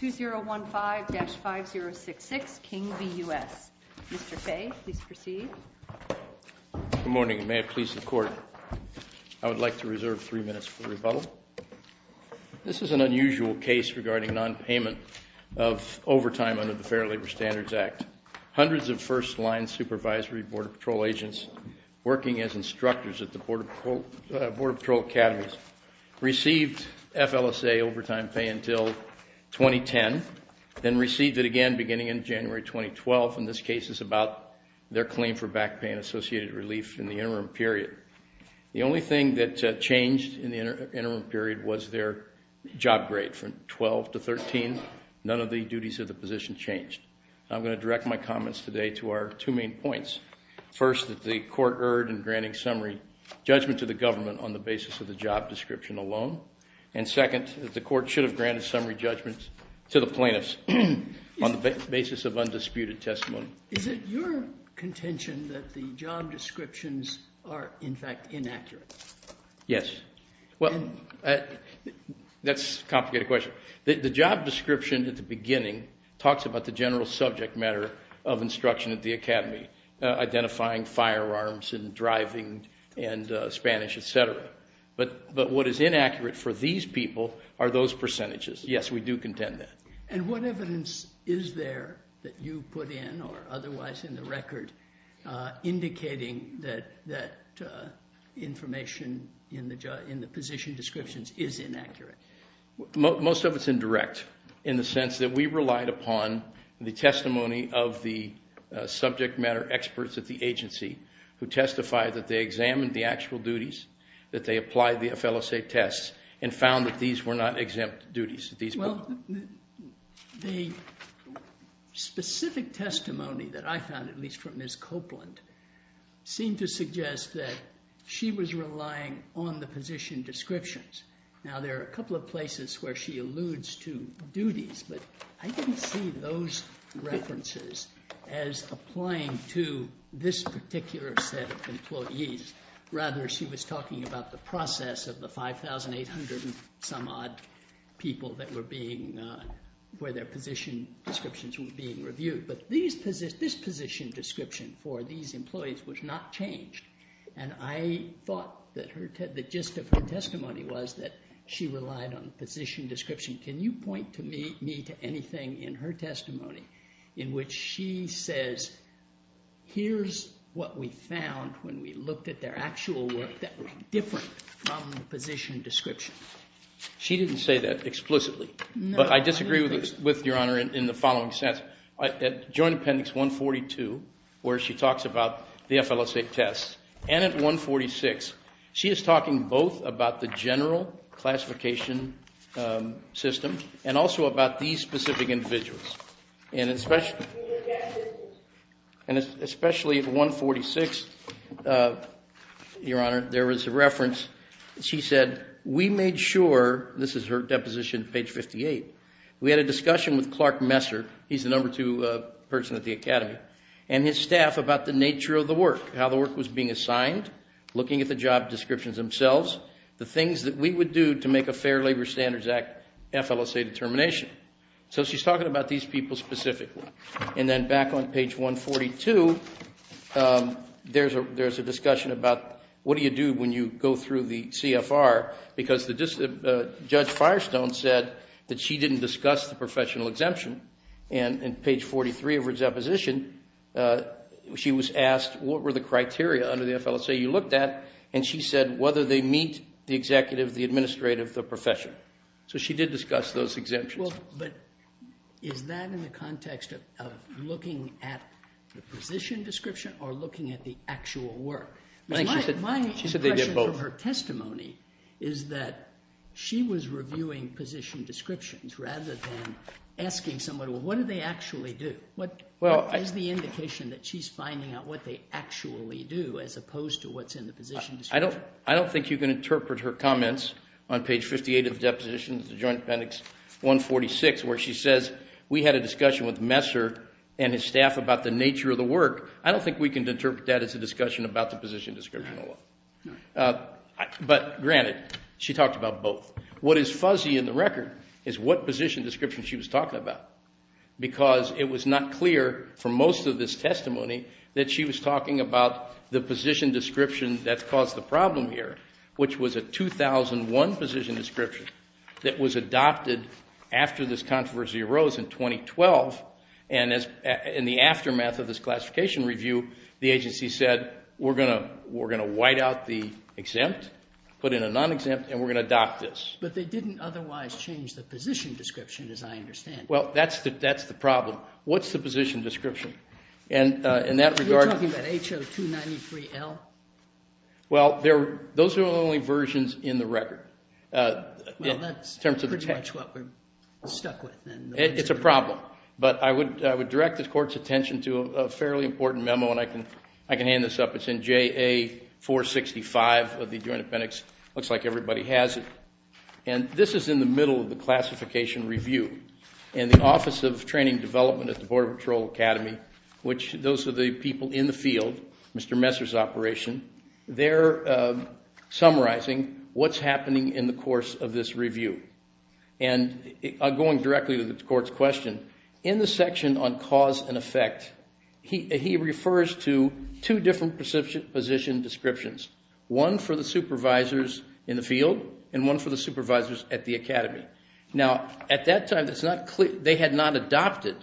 2015-5066 King v. U.S. Mr. Fay, please proceed. Good morning. May it please the Court, I would like to reserve three minutes for rebuttal. This is an unusual case regarding nonpayment of overtime under the Fair Labor Standards Act. Hundreds of first-line supervisory Border Patrol agents working as instructors at the Border Patrol Academies received FLSA overtime pay until 2010, then received it again beginning in January 2012. And this case is about their claim for back pay and associated relief in the interim period. The only thing that changed in the interim period was their job grade. From 12 to 13, none of the duties of the position changed. I'm going to direct my comments today to our two main points. First, that the Court erred in granting summary judgment to the government on the basis of the job description alone. And second, that the Court should have granted summary judgment to the plaintiffs on the basis of undisputed testimony. Is it your contention that the job descriptions are, in fact, inaccurate? Yes. Well, that's a complicated question. The job description at the beginning talks about the general subject matter of instruction at the Academy. Identifying firearms and driving and Spanish, et cetera. But what is inaccurate for these people are those percentages. Yes, we do contend that. And what evidence is there that you put in or otherwise in the record indicating that information in the position descriptions is inaccurate? Most of it's indirect in the sense that we relied upon the testimony of the subject matter experts at the agency who testified that they examined the actual duties, that they applied the FLSA tests, and found that these were not exempt duties. Well, the specific testimony that I found, at least from Ms. Copeland, seemed to suggest that she was relying on the position descriptions. Now, there are a couple of places where she alludes to duties, but I didn't see those references as applying to this particular set of employees. Rather, she was talking about the process of the 5,800-and-some-odd people where their position descriptions were being reviewed. But this position description for these employees was not changed, and I thought that the gist of her testimony was that she relied on the position description. Can you point me to anything in her testimony in which she says, here's what we found when we looked at their actual work that was different from the position description? She didn't say that explicitly, but I disagree with Your Honor in the following sense. At Joint Appendix 142, where she talks about the FLSA tests, and at 146, she is talking both about the general classification system and also about these specific individuals. And especially at 146, Your Honor, there was a reference. She said, we made sure, this is her deposition, page 58, we had a discussion with Clark Messer, he's the number two person at the Academy, and his staff about the nature of the work, how the work was being assigned, looking at the job descriptions themselves, the things that we would do to make a Fair Labor Standards Act FLSA determination. So she's talking about these people specifically. And then back on page 142, there's a discussion about what do you do when you go through the CFR, because Judge Firestone said that she didn't discuss the professional exemption. And on page 43 of her deposition, she was asked what were the criteria under the FLSA you looked at, and she said whether they meet the executive, the administrative, the professional. So she did discuss those exemptions. But is that in the context of looking at the position description or looking at the actual work? My impression from her testimony is that she was reviewing position descriptions rather than asking someone, well, what do they actually do? What is the indication that she's finding out what they actually do as opposed to what's in the position description? I don't think you can interpret her comments on page 58 of the deposition, the Joint Appendix 146, where she says, we had a discussion with Messer and his staff about the nature of the work. I don't think we can interpret that as a discussion about the position description at all. But granted, she talked about both. What is fuzzy in the record is what position description she was talking about, because it was not clear from most of this testimony that she was talking about the position description that's caused the problem here, which was a 2001 position description that was adopted after this controversy arose in 2012. In the aftermath of this classification review, the agency said, we're going to white out the exempt, put in a non-exempt, and we're going to adopt this. But they didn't otherwise change the position description, as I understand it. Well, that's the problem. What's the position description? Are you talking about HO 293L? Well, those are the only versions in the record. Well, that's pretty much what we're stuck with. It's a problem. But I would direct the Court's attention to a fairly important memo, and I can hand this up. It's in JA465 of the Adjoint Appendix. It looks like everybody has it. And this is in the middle of the classification review. And the Office of Training and Development at the Border Patrol Academy, which those are the people in the field, Mr. Messer's operation, they're summarizing what's happening in the course of this review. And going directly to the Court's question, in the section on cause and effect, he refers to two different position descriptions, one for the supervisors in the field and one for the supervisors at the academy. Now, at that time, they had not adopted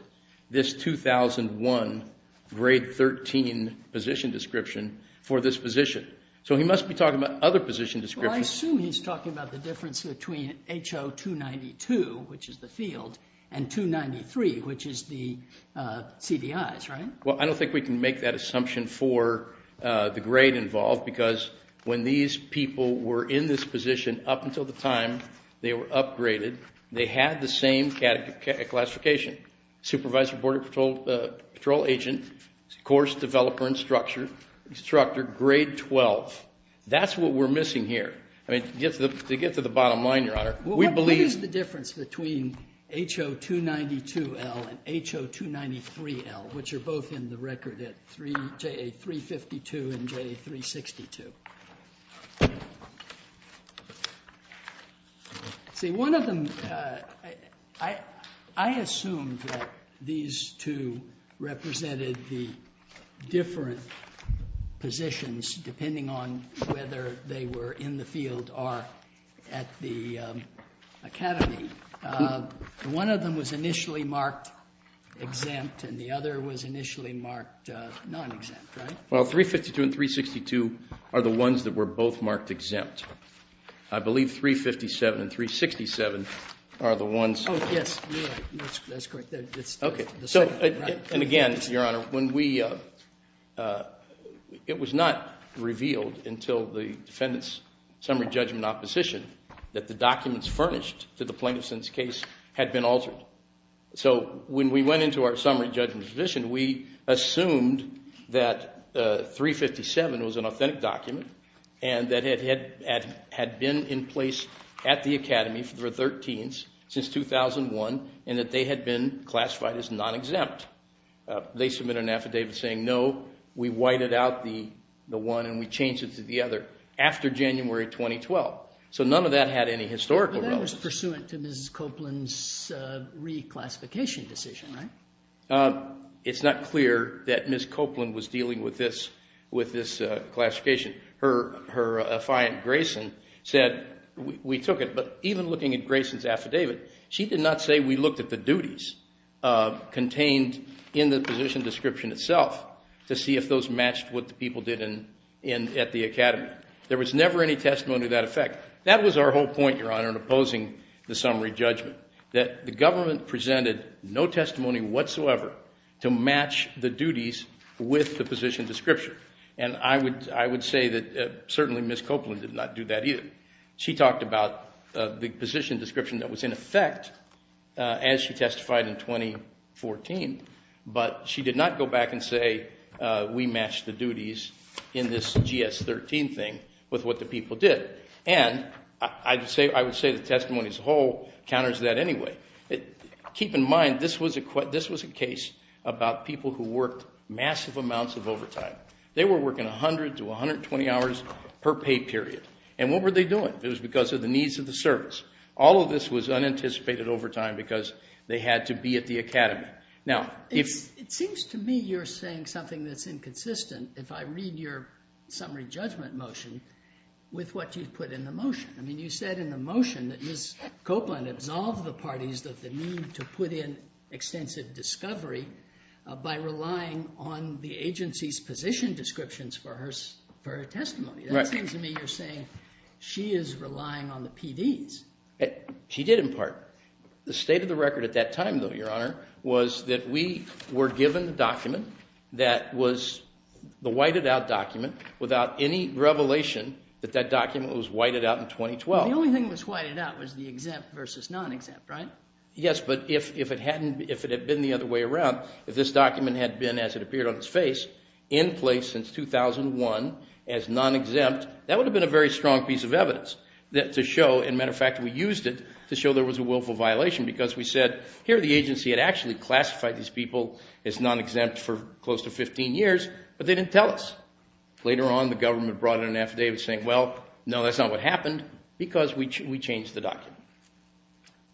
this 2001 Grade 13 position description for this position. So he must be talking about other position descriptions. Well, I assume he's talking about the difference between HO 292, which is the field, and 293, which is the CDIs, right? Well, I don't think we can make that assumption for the grade involved because when these people were in this position up until the time they were upgraded, they had the same classification, supervisor, border patrol agent, course developer, instructor, grade 12. That's what we're missing here. I mean, to get to the bottom line, Your Honor, we believe the difference between HO 292L and HO 293L, which are both in the record at JA 352 and JA 362. See, one of them, I assumed that these two represented the different positions depending on whether they were in the field or at the academy. One of them was initially marked exempt and the other was initially marked non-exempt, right? Well, 352 and 362 are the ones that were both marked exempt. I believe 357 and 367 are the ones. Oh, yes, that's correct. Okay. And again, Your Honor, it was not revealed until the defendant's summary judgment opposition that the documents furnished to the plaintiff's case had been altered. So when we went into our summary judgment position, we assumed that 357 was an authentic document and that it had been in place at the academy for 13s since 2001 and that they had been classified as non-exempt. They submitted an affidavit saying, no, we whited out the one and we changed it to the other after January 2012. So none of that had any historical relevance. That was pursuant to Mrs. Copeland's reclassification decision, right? It's not clear that Mrs. Copeland was dealing with this classification. Her affiant Grayson said, we took it, but even looking at Grayson's affidavit, she did not say we looked at the duties contained in the position description itself to see if those matched what the people did at the academy. There was never any testimony to that effect. That was our whole point, Your Honor, in opposing the summary judgment, that the government presented no testimony whatsoever to match the duties with the position description. And I would say that certainly Mrs. Copeland did not do that either. She talked about the position description that was in effect as she testified in 2014, but she did not go back and say we matched the duties in this GS13 thing with what the people did. And I would say the testimony as a whole counters that anyway. Keep in mind this was a case about people who worked massive amounts of overtime. They were working 100 to 120 hours per pay period. And what were they doing? It was because of the needs of the service. All of this was unanticipated overtime because they had to be at the academy. It seems to me you're saying something that's inconsistent if I read your summary judgment motion with what you put in the motion. I mean you said in the motion that Mrs. Copeland absolved the parties of the need to put in extensive discovery by relying on the agency's position descriptions for her testimony. That seems to me you're saying she is relying on the PDs. She did in part. The state of the record at that time, though, Your Honor, was that we were given the document that was the whited out document without any revelation that that document was whited out in 2012. The only thing that was whited out was the exempt versus non-exempt, right? Yes, but if it had been the other way around, if this document had been, as it appeared on its face, in place since 2001 as non-exempt, that would have been a very strong piece of evidence to show, as a matter of fact, we used it to show there was a willful violation because we said, here the agency had actually classified these people as non-exempt for close to 15 years, but they didn't tell us. Later on the government brought in an affidavit saying, well, no, that's not what happened because we changed the document.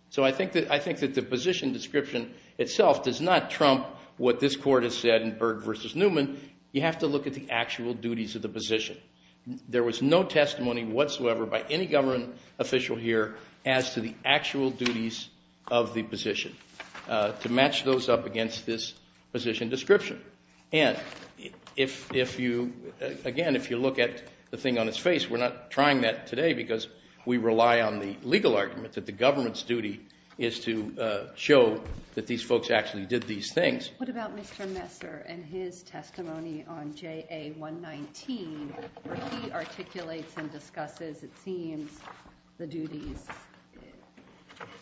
So I think that the position description itself does not trump what this court has said in Berg v. Newman. You have to look at the actual duties of the position. There was no testimony whatsoever by any government official here as to the actual duties of the position to match those up against this position description. And if you, again, if you look at the thing on its face, we're not trying that today because we rely on the legal argument that the government's duty is to show that these folks actually did these things. What about Mr. Messer and his testimony on JA 119 where he articulates and discusses, it seems, the duties?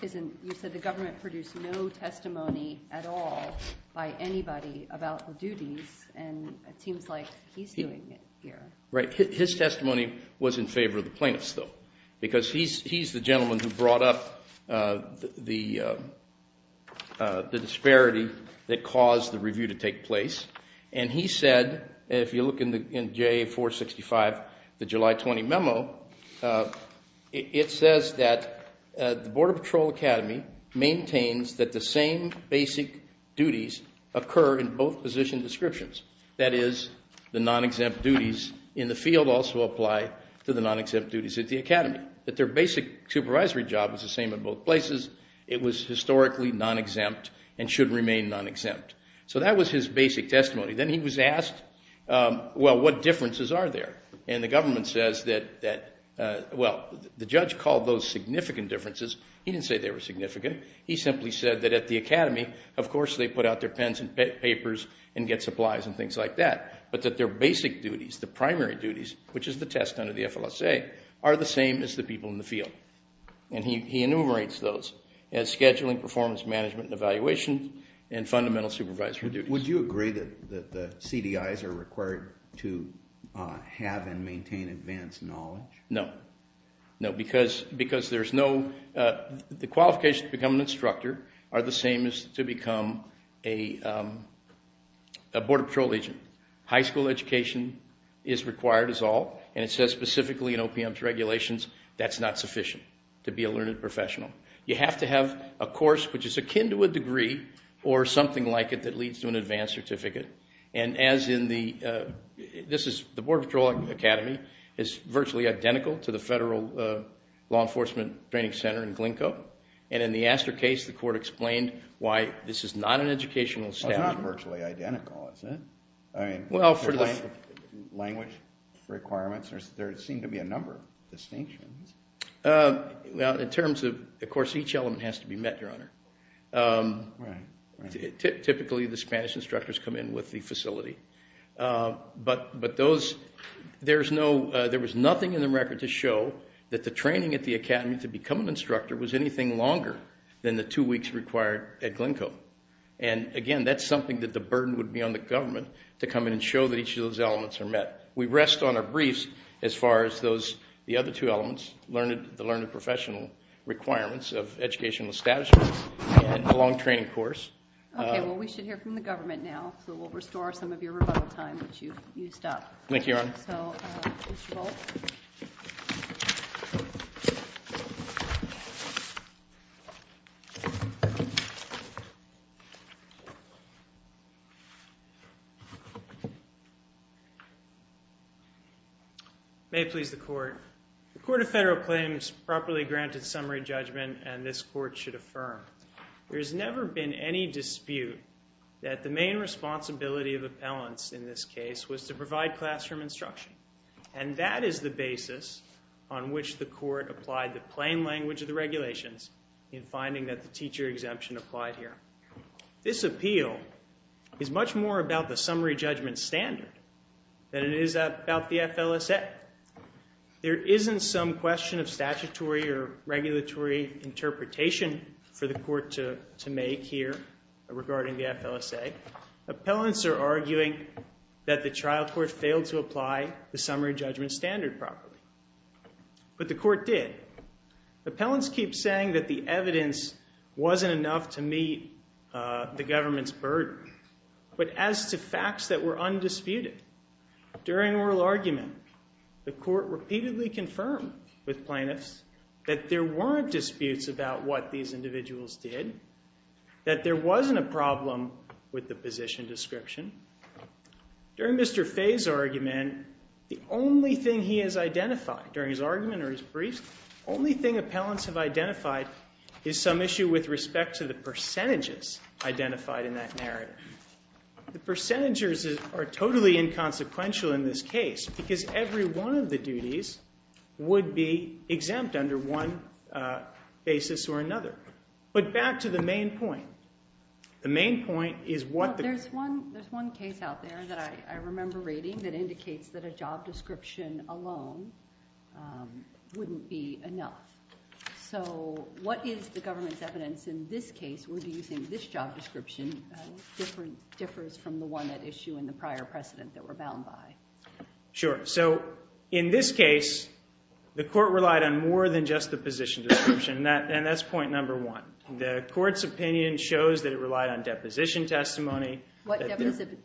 You said the government produced no testimony at all by anybody about the duties, and it seems like he's doing it here. Right. His testimony was in favor of the plaintiffs, though, because he's the gentleman who brought up the disparity that caused the review to take place. And he said, if you look in JA 465, the July 20 memo, it says that the Border Patrol Academy maintains that the same basic duties occur in both position descriptions. That is, the non-exempt duties in the field also apply to the non-exempt duties at the academy, that their basic supervisory job is the same in both places. It was historically non-exempt and should remain non-exempt. So that was his basic testimony. Then he was asked, well, what differences are there? And the government says that, well, the judge called those significant differences. He didn't say they were significant. He simply said that at the academy, of course they put out their pens and papers and get supplies and things like that, but that their basic duties, the primary duties, which is the test under the FLSA, are the same as the people in the field. And he enumerates those as scheduling, performance management and evaluation, and fundamental supervisory duties. Would you agree that the CDIs are required to have and maintain advanced knowledge? No. Because the qualifications to become an instructor are the same as to become a Border Patrol agent. High school education is required is all, and it says specifically in OPM's regulations that's not sufficient to be a learned professional. You have to have a course which is akin to a degree or something like it that leads to an advanced certificate. And as in the, this is, the Border Patrol Academy is virtually identical to the Federal Law Enforcement Training Center in Glencoe. And in the Astor case, the court explained why this is not an educational standard. It's not virtually identical, is it? I mean, language requirements, there seem to be a number of distinctions. Well, in terms of, of course, each element has to be met, Your Honor. Right, right. Typically the Spanish instructors come in with the facility. But, but those, there's no, there was nothing in the record to show that the training at the academy to become an instructor was anything longer than the two weeks required at Glencoe. And, again, that's something that the burden would be on the government to come in and show that each of those elements are met. We rest on our briefs as far as those, the other two elements, learned, the learned professional requirements of educational establishment and the long training course. Okay, well we should hear from the government now. So we'll restore some of your rebuttal time which you've used up. Thank you, Your Honor. So, Mr. Volk. May it please the Court. The Court of Federal Claims properly granted summary judgment and this Court should affirm. There has never been any dispute that the main responsibility of appellants in this case was to provide classroom instruction. And that is the basis on which the Court applied the plain language of the regulations in finding that the teacher exemption applied here. This appeal is much more about the summary judgment standard than it is about the FLSA. Yet there isn't some question of statutory or regulatory interpretation for the Court to make here regarding the FLSA. Appellants are arguing that the trial court failed to apply the summary judgment standard properly. But the Court did. Appellants keep saying that the evidence wasn't enough to meet the government's burden. But as to facts that were undisputed, during oral argument, the Court repeatedly confirmed with plaintiffs that there weren't disputes about what these individuals did, that there wasn't a problem with the position description. During Mr. Fay's argument, the only thing he has identified, during his argument or his briefs, the only thing appellants have identified is some issue with respect to the percentages identified in that narrative. The percentages are totally inconsequential in this case because every one of the duties would be exempt under one basis or another. But back to the main point. The main point is what the- There's one case out there that I remember reading that indicates that a job description alone wouldn't be enough. So what is the government's evidence in this case? Would you think this job description differs from the one at issue in the prior precedent that we're bound by? Sure. So in this case, the Court relied on more than just the position description. And that's point number one. The Court's opinion shows that it relied on deposition testimony. What deposition-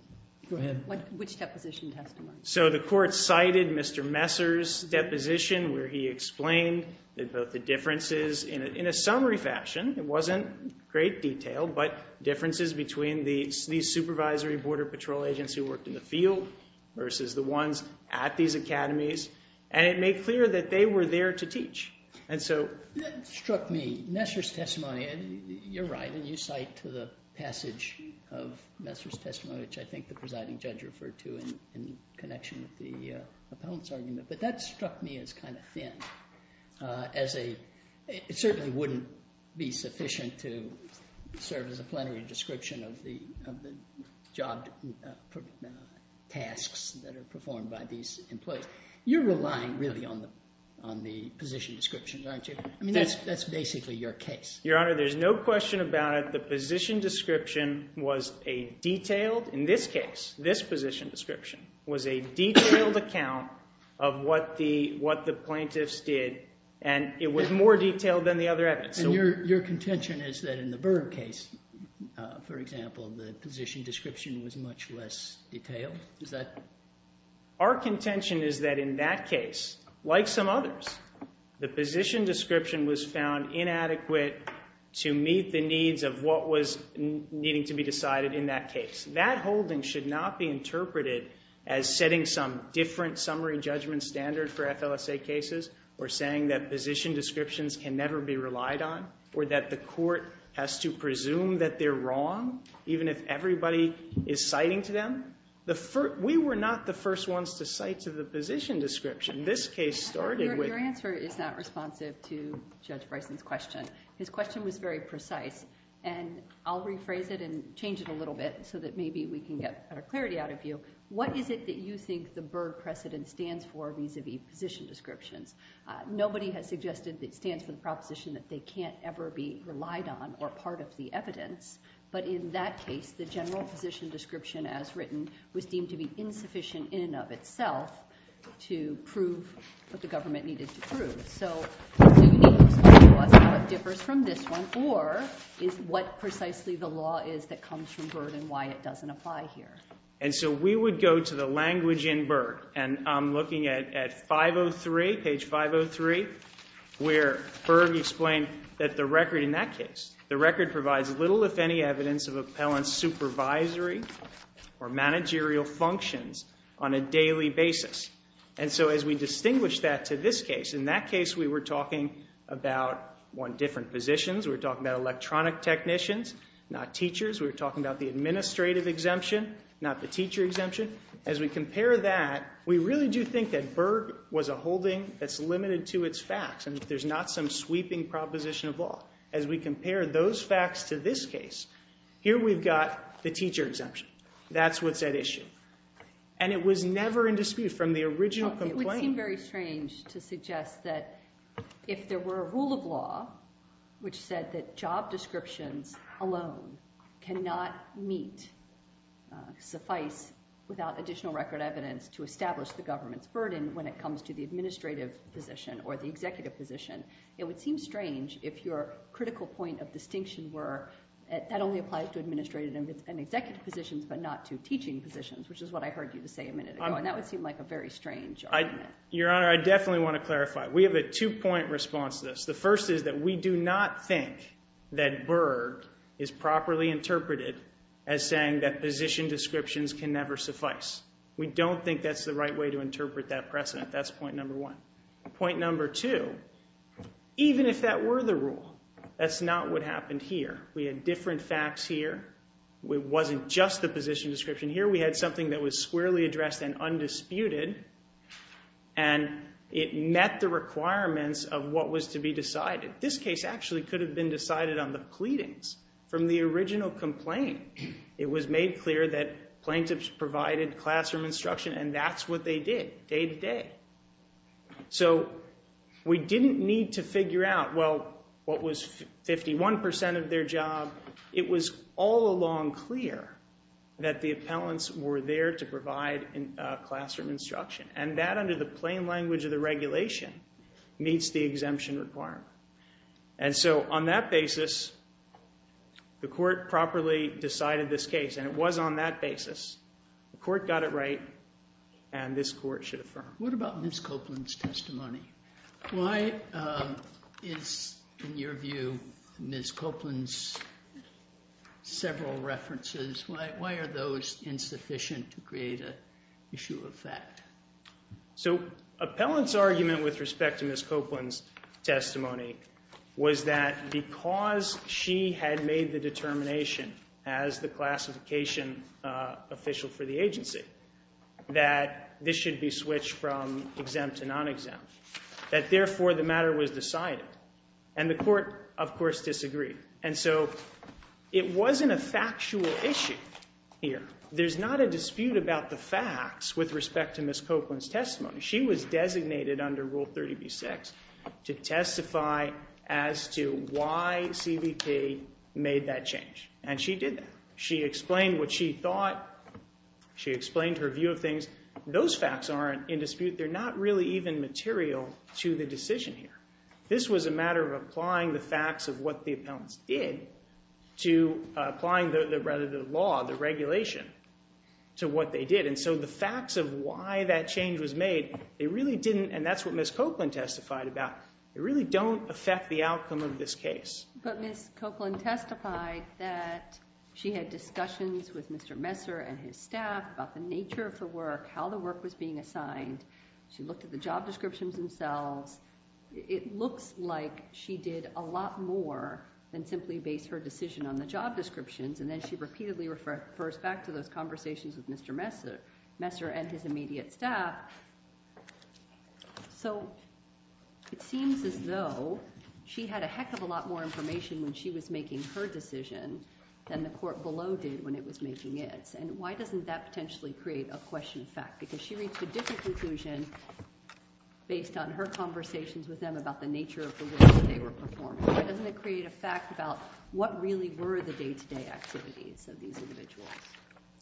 Go ahead. Which deposition testimony? So the Court cited Mr. Messer's deposition where he explained about the differences in a summary fashion. It wasn't great detail, but differences between these supervisory border patrol agents who worked in the field versus the ones at these academies. And it made clear that they were there to teach. And so- That struck me. Messer's testimony, you're right, and you cite to the passage of Messer's testimony, which I think the presiding judge referred to in connection with the appellant's argument. But that struck me as kind of thin as a- It certainly wouldn't be sufficient to serve as a plenary description of the job tasks that are performed by these employees. You're relying really on the position description, aren't you? I mean, that's basically your case. Your Honor, there's no question about it. The position description was a detailed – in this case, this position description was a detailed account of what the plaintiffs did, and it was more detailed than the other evidence. And your contention is that in the Burr case, for example, the position description was much less detailed? Is that- Our contention is that in that case, like some others, the position description was found inadequate to meet the needs of what was needing to be decided in that case. That holding should not be interpreted as setting some different summary judgment standard for FLSA cases or saying that position descriptions can never be relied on or that the court has to presume that they're wrong, even if everybody is citing to them. We were not the first ones to cite to the position description. This case started with- Your answer is not responsive to Judge Bryson's question. His question was very precise, and I'll rephrase it and change it a little bit so that maybe we can get better clarity out of you. What is it that you think the Burr precedent stands for vis-a-vis position descriptions? Nobody has suggested that it stands for the proposition that they can't ever be relied on or part of the evidence. But in that case, the general position description, as written, was deemed to be insufficient in and of itself to prove what the government needed to prove. So do you need to tell us how it differs from this one or is what precisely the law is that comes from Burr and why it doesn't apply here? And so we would go to the language in Burr. And I'm looking at 503, page 503, where Burr explained that the record in that case, the record provides little if any evidence of appellant's supervisory or managerial functions on a daily basis. And so as we distinguish that to this case, in that case we were talking about, one, different positions. We were talking about electronic technicians, not teachers. We were talking about the administrative exemption, not the teacher exemption. As we compare that, we really do think that Burr was a holding that's limited to its facts and there's not some sweeping proposition of law. As we compare those facts to this case, here we've got the teacher exemption. That's what's at issue. And it was never in dispute from the original complaint. It would seem very strange to suggest that if there were a rule of law which said that job descriptions alone cannot meet, suffice, without additional record evidence to establish the government's burden when it comes to the administrative position or the executive position, it would seem strange if your critical point of distinction were that only applies to administrative and executive positions but not to teaching positions, which is what I heard you say a minute ago. And that would seem like a very strange argument. Your Honor, I definitely want to clarify. We have a two-point response to this. The first is that we do not think that Burr is properly interpreted as saying that position descriptions can never suffice. We don't think that's the right way to interpret that precedent. That's point number one. Point number two, even if that were the rule, that's not what happened here. We had different facts here. It wasn't just the position description here. We had something that was squarely addressed and undisputed. And it met the requirements of what was to be decided. This case actually could have been decided on the pleadings from the original complaint. It was made clear that plaintiffs provided classroom instruction, and that's what they did day to day. So we didn't need to figure out, well, what was 51% of their job? It was all along clear that the appellants were there to provide classroom instruction. And that, under the plain language of the regulation, meets the exemption requirement. And so on that basis, the court properly decided this case, and it was on that basis. The court got it right, and this court should affirm. What about Ms. Copeland's testimony? Why is, in your view, Ms. Copeland's several references, why are those insufficient to create an issue of fact? So appellant's argument with respect to Ms. Copeland's testimony was that because she had made the determination, as the classification official for the agency, that this should be switched from exempt to non-exempt, that therefore the matter was decided. And the court, of course, disagreed. And so it wasn't a factual issue here. There's not a dispute about the facts with respect to Ms. Copeland's testimony. She was designated under Rule 30b-6 to testify as to why CBP made that change. And she did that. She explained what she thought. She explained her view of things. Those facts aren't in dispute. They're not really even material to the decision here. This was a matter of applying the facts of what the appellants did to applying the law, the regulation, to what they did. And so the facts of why that change was made, they really didn't, and that's what Ms. Copeland testified about. They really don't affect the outcome of this case. But Ms. Copeland testified that she had discussions with Mr. Messer and his staff about the nature of the work, how the work was being assigned. She looked at the job descriptions themselves. It looks like she did a lot more than simply base her decision on the job descriptions, and then she repeatedly refers back to those conversations with Mr. Messer and his immediate staff. So it seems as though she had a heck of a lot more information when she was making her decision than the court below did when it was making its. And why doesn't that potentially create a question of fact? Because she reached a different conclusion based on her conversations with them about the nature of the work that they were performing. Why doesn't it create a fact about what really were the day-to-day activities of these individuals?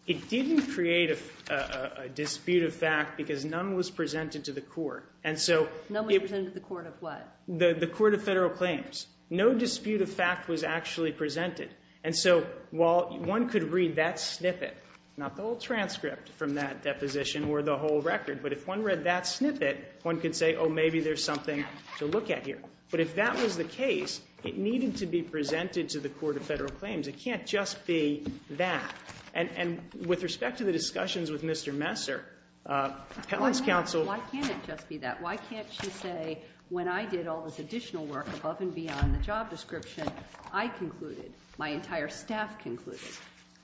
It didn't create a dispute of fact because none was presented to the court. None was presented to the court of what? The court of federal claims. No dispute of fact was actually presented. And so while one could read that snippet, not the whole transcript from that deposition or the whole record, but if one read that snippet, one could say, oh, maybe there's something to look at here. But if that was the case, it needed to be presented to the court of federal claims. It can't just be that. And with respect to the discussions with Mr. Messer, appellate's counsel— Why can't it just be that? Why can't she say, when I did all this additional work above and beyond the job description, I concluded, my entire staff concluded,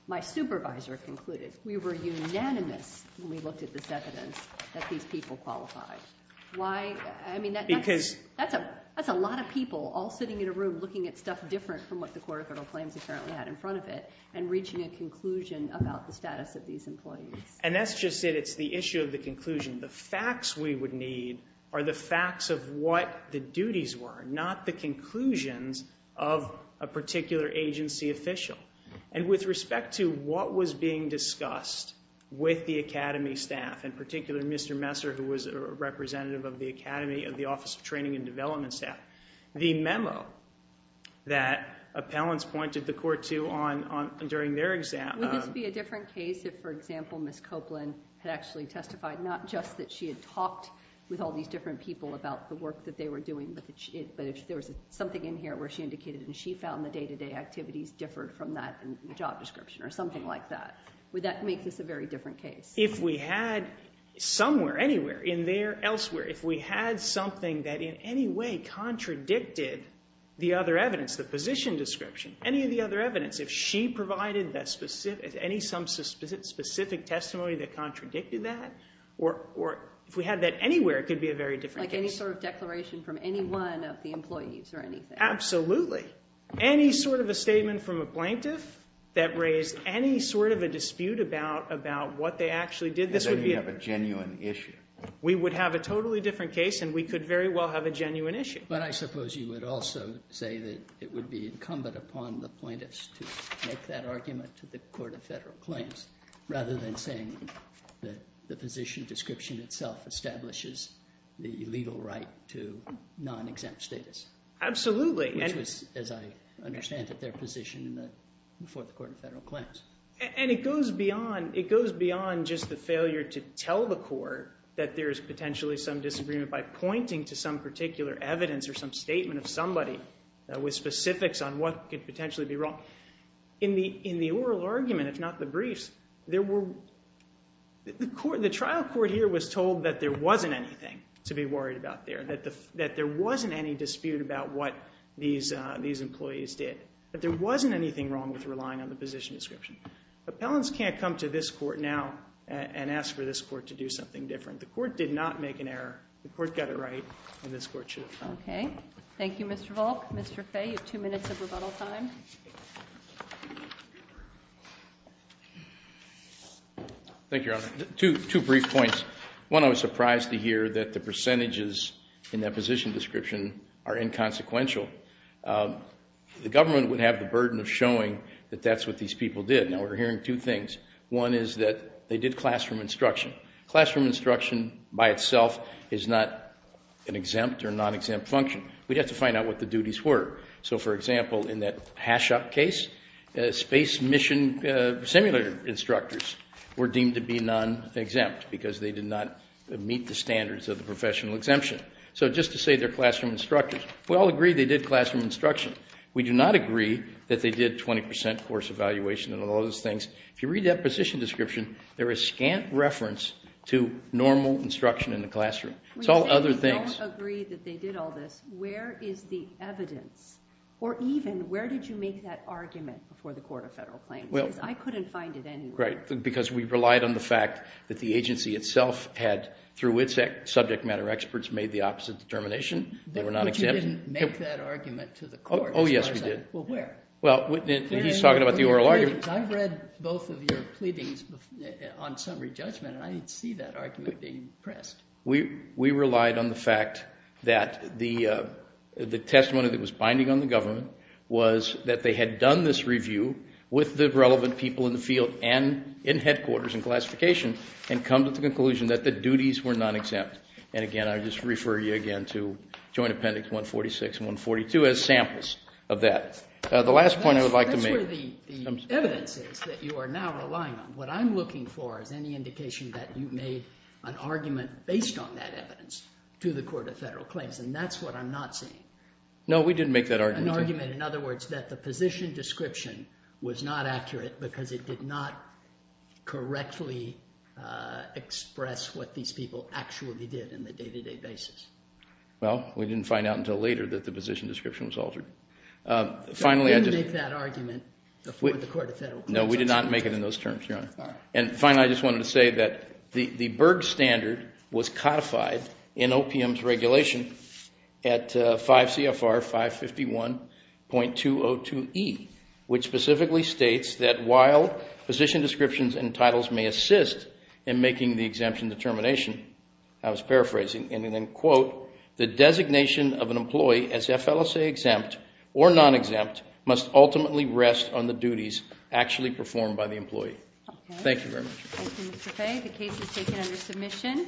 my supervisor concluded, we were unanimous when we looked at this evidence that these people qualified? I mean, that's a lot of people all sitting in a room looking at stuff different from what the court of federal claims apparently had in front of it and reaching a conclusion about the status of these employees. And that's just it. It's the issue of the conclusion. The facts we would need are the facts of what the duties were, not the conclusions of a particular agency official. And with respect to what was being discussed with the academy staff, in particular Mr. Messer, who was a representative of the academy, of the Office of Training and Development staff, the memo that appellants pointed the court to during their exam— Would this be a different case if, for example, Ms. Copeland had actually testified, not just that she had talked with all these different people about the work that they were doing, but if there was something in here where she indicated that she found the day-to-day activities differed from that in the job description or something like that? Would that make this a very different case? If we had somewhere, anywhere, in there, elsewhere, if we had something that in any way contradicted the other evidence, the position description, any of the other evidence, if she provided any specific testimony that contradicted that, or if we had that anywhere, it could be a very different case. Like any sort of declaration from any one of the employees or anything? Absolutely. Any sort of a statement from a plaintiff that raised any sort of a dispute about what they actually did, this would be a— And then you'd have a genuine issue. We would have a totally different case and we could very well have a genuine issue. But I suppose you would also say that it would be incumbent upon the plaintiffs to make that argument to the Court of Federal Claims rather than saying that the position description itself establishes the legal right to non-exempt status. Absolutely. Which was, as I understand it, their position before the Court of Federal Claims. And it goes beyond just the failure to tell the court that there is potentially some disagreement by pointing to some particular evidence or some statement of somebody with specifics on what could potentially be wrong. In the oral argument, if not the briefs, the trial court here was told that there wasn't anything to be worried about there, that there wasn't any dispute about what these employees did, that there wasn't anything wrong with relying on the position description. Appellants can't come to this court now and ask for this court to do something different. The court did not make an error. The court got it right and this court should. Okay. Thank you, Mr. Volk. Mr. Fay, you have two minutes of rebuttal time. Thank you, Your Honor. Two brief points. One, I was surprised to hear that the percentages in that position description are inconsequential. The government would have the burden of showing that that's what these people did. Now, we're hearing two things. One is that they did classroom instruction. Classroom instruction by itself is not an exempt or non-exempt function. We'd have to find out what the duties were. So, for example, in that HASHOP case, space mission simulator instructors were deemed to be non-exempt because they did not meet the standards of the professional exemption. So just to say they're classroom instructors. We all agree they did classroom instruction. We do not agree that they did 20% course evaluation and all those things. If you read that position description, there is scant reference to normal instruction in the classroom. It's all other things. When you say you don't agree that they did all this, where is the evidence? Or even, where did you make that argument before the Court of Federal Claims? Because I couldn't find it anywhere. Right, because we relied on the fact that the agency itself had, through its subject matter experts, made the opposite determination. They were non-exempt. But you didn't make that argument to the Court. Oh, yes, we did. Well, where? He's talking about the oral argument. I read both of your pleadings on summary judgment, and I didn't see that argument being pressed. We relied on the fact that the testimony that was binding on the government was that they had done this review with the relevant people in the field and in headquarters and classification and come to the conclusion that the duties were non-exempt. And again, I just refer you again to Joint Appendix 146 and 142 as samples of that. The last point I would like to make. That's where the evidence is that you are now relying on. What I'm looking for is any indication that you made an argument based on that evidence to the Court of Federal Claims, and that's what I'm not seeing. No, we didn't make that argument. An argument, in other words, that the position description was not accurate because it did not correctly express what these people actually did in the day-to-day basis. Well, we didn't find out until later that the position description was altered. We didn't make that argument before the Court of Federal Claims. No, we did not make it in those terms, Your Honor. And finally, I just wanted to say that the Berg standard was codified in OPM's regulation at 5 CFR 551.202E, which specifically states that while position descriptions and titles may assist in making the exemption determination, I was paraphrasing, and then quote, the designation of an employee as FLSA exempt or non-exempt must ultimately rest on the duties actually performed by the employee. Thank you very much. Thank you, Mr. Fay. The case is taken under submission.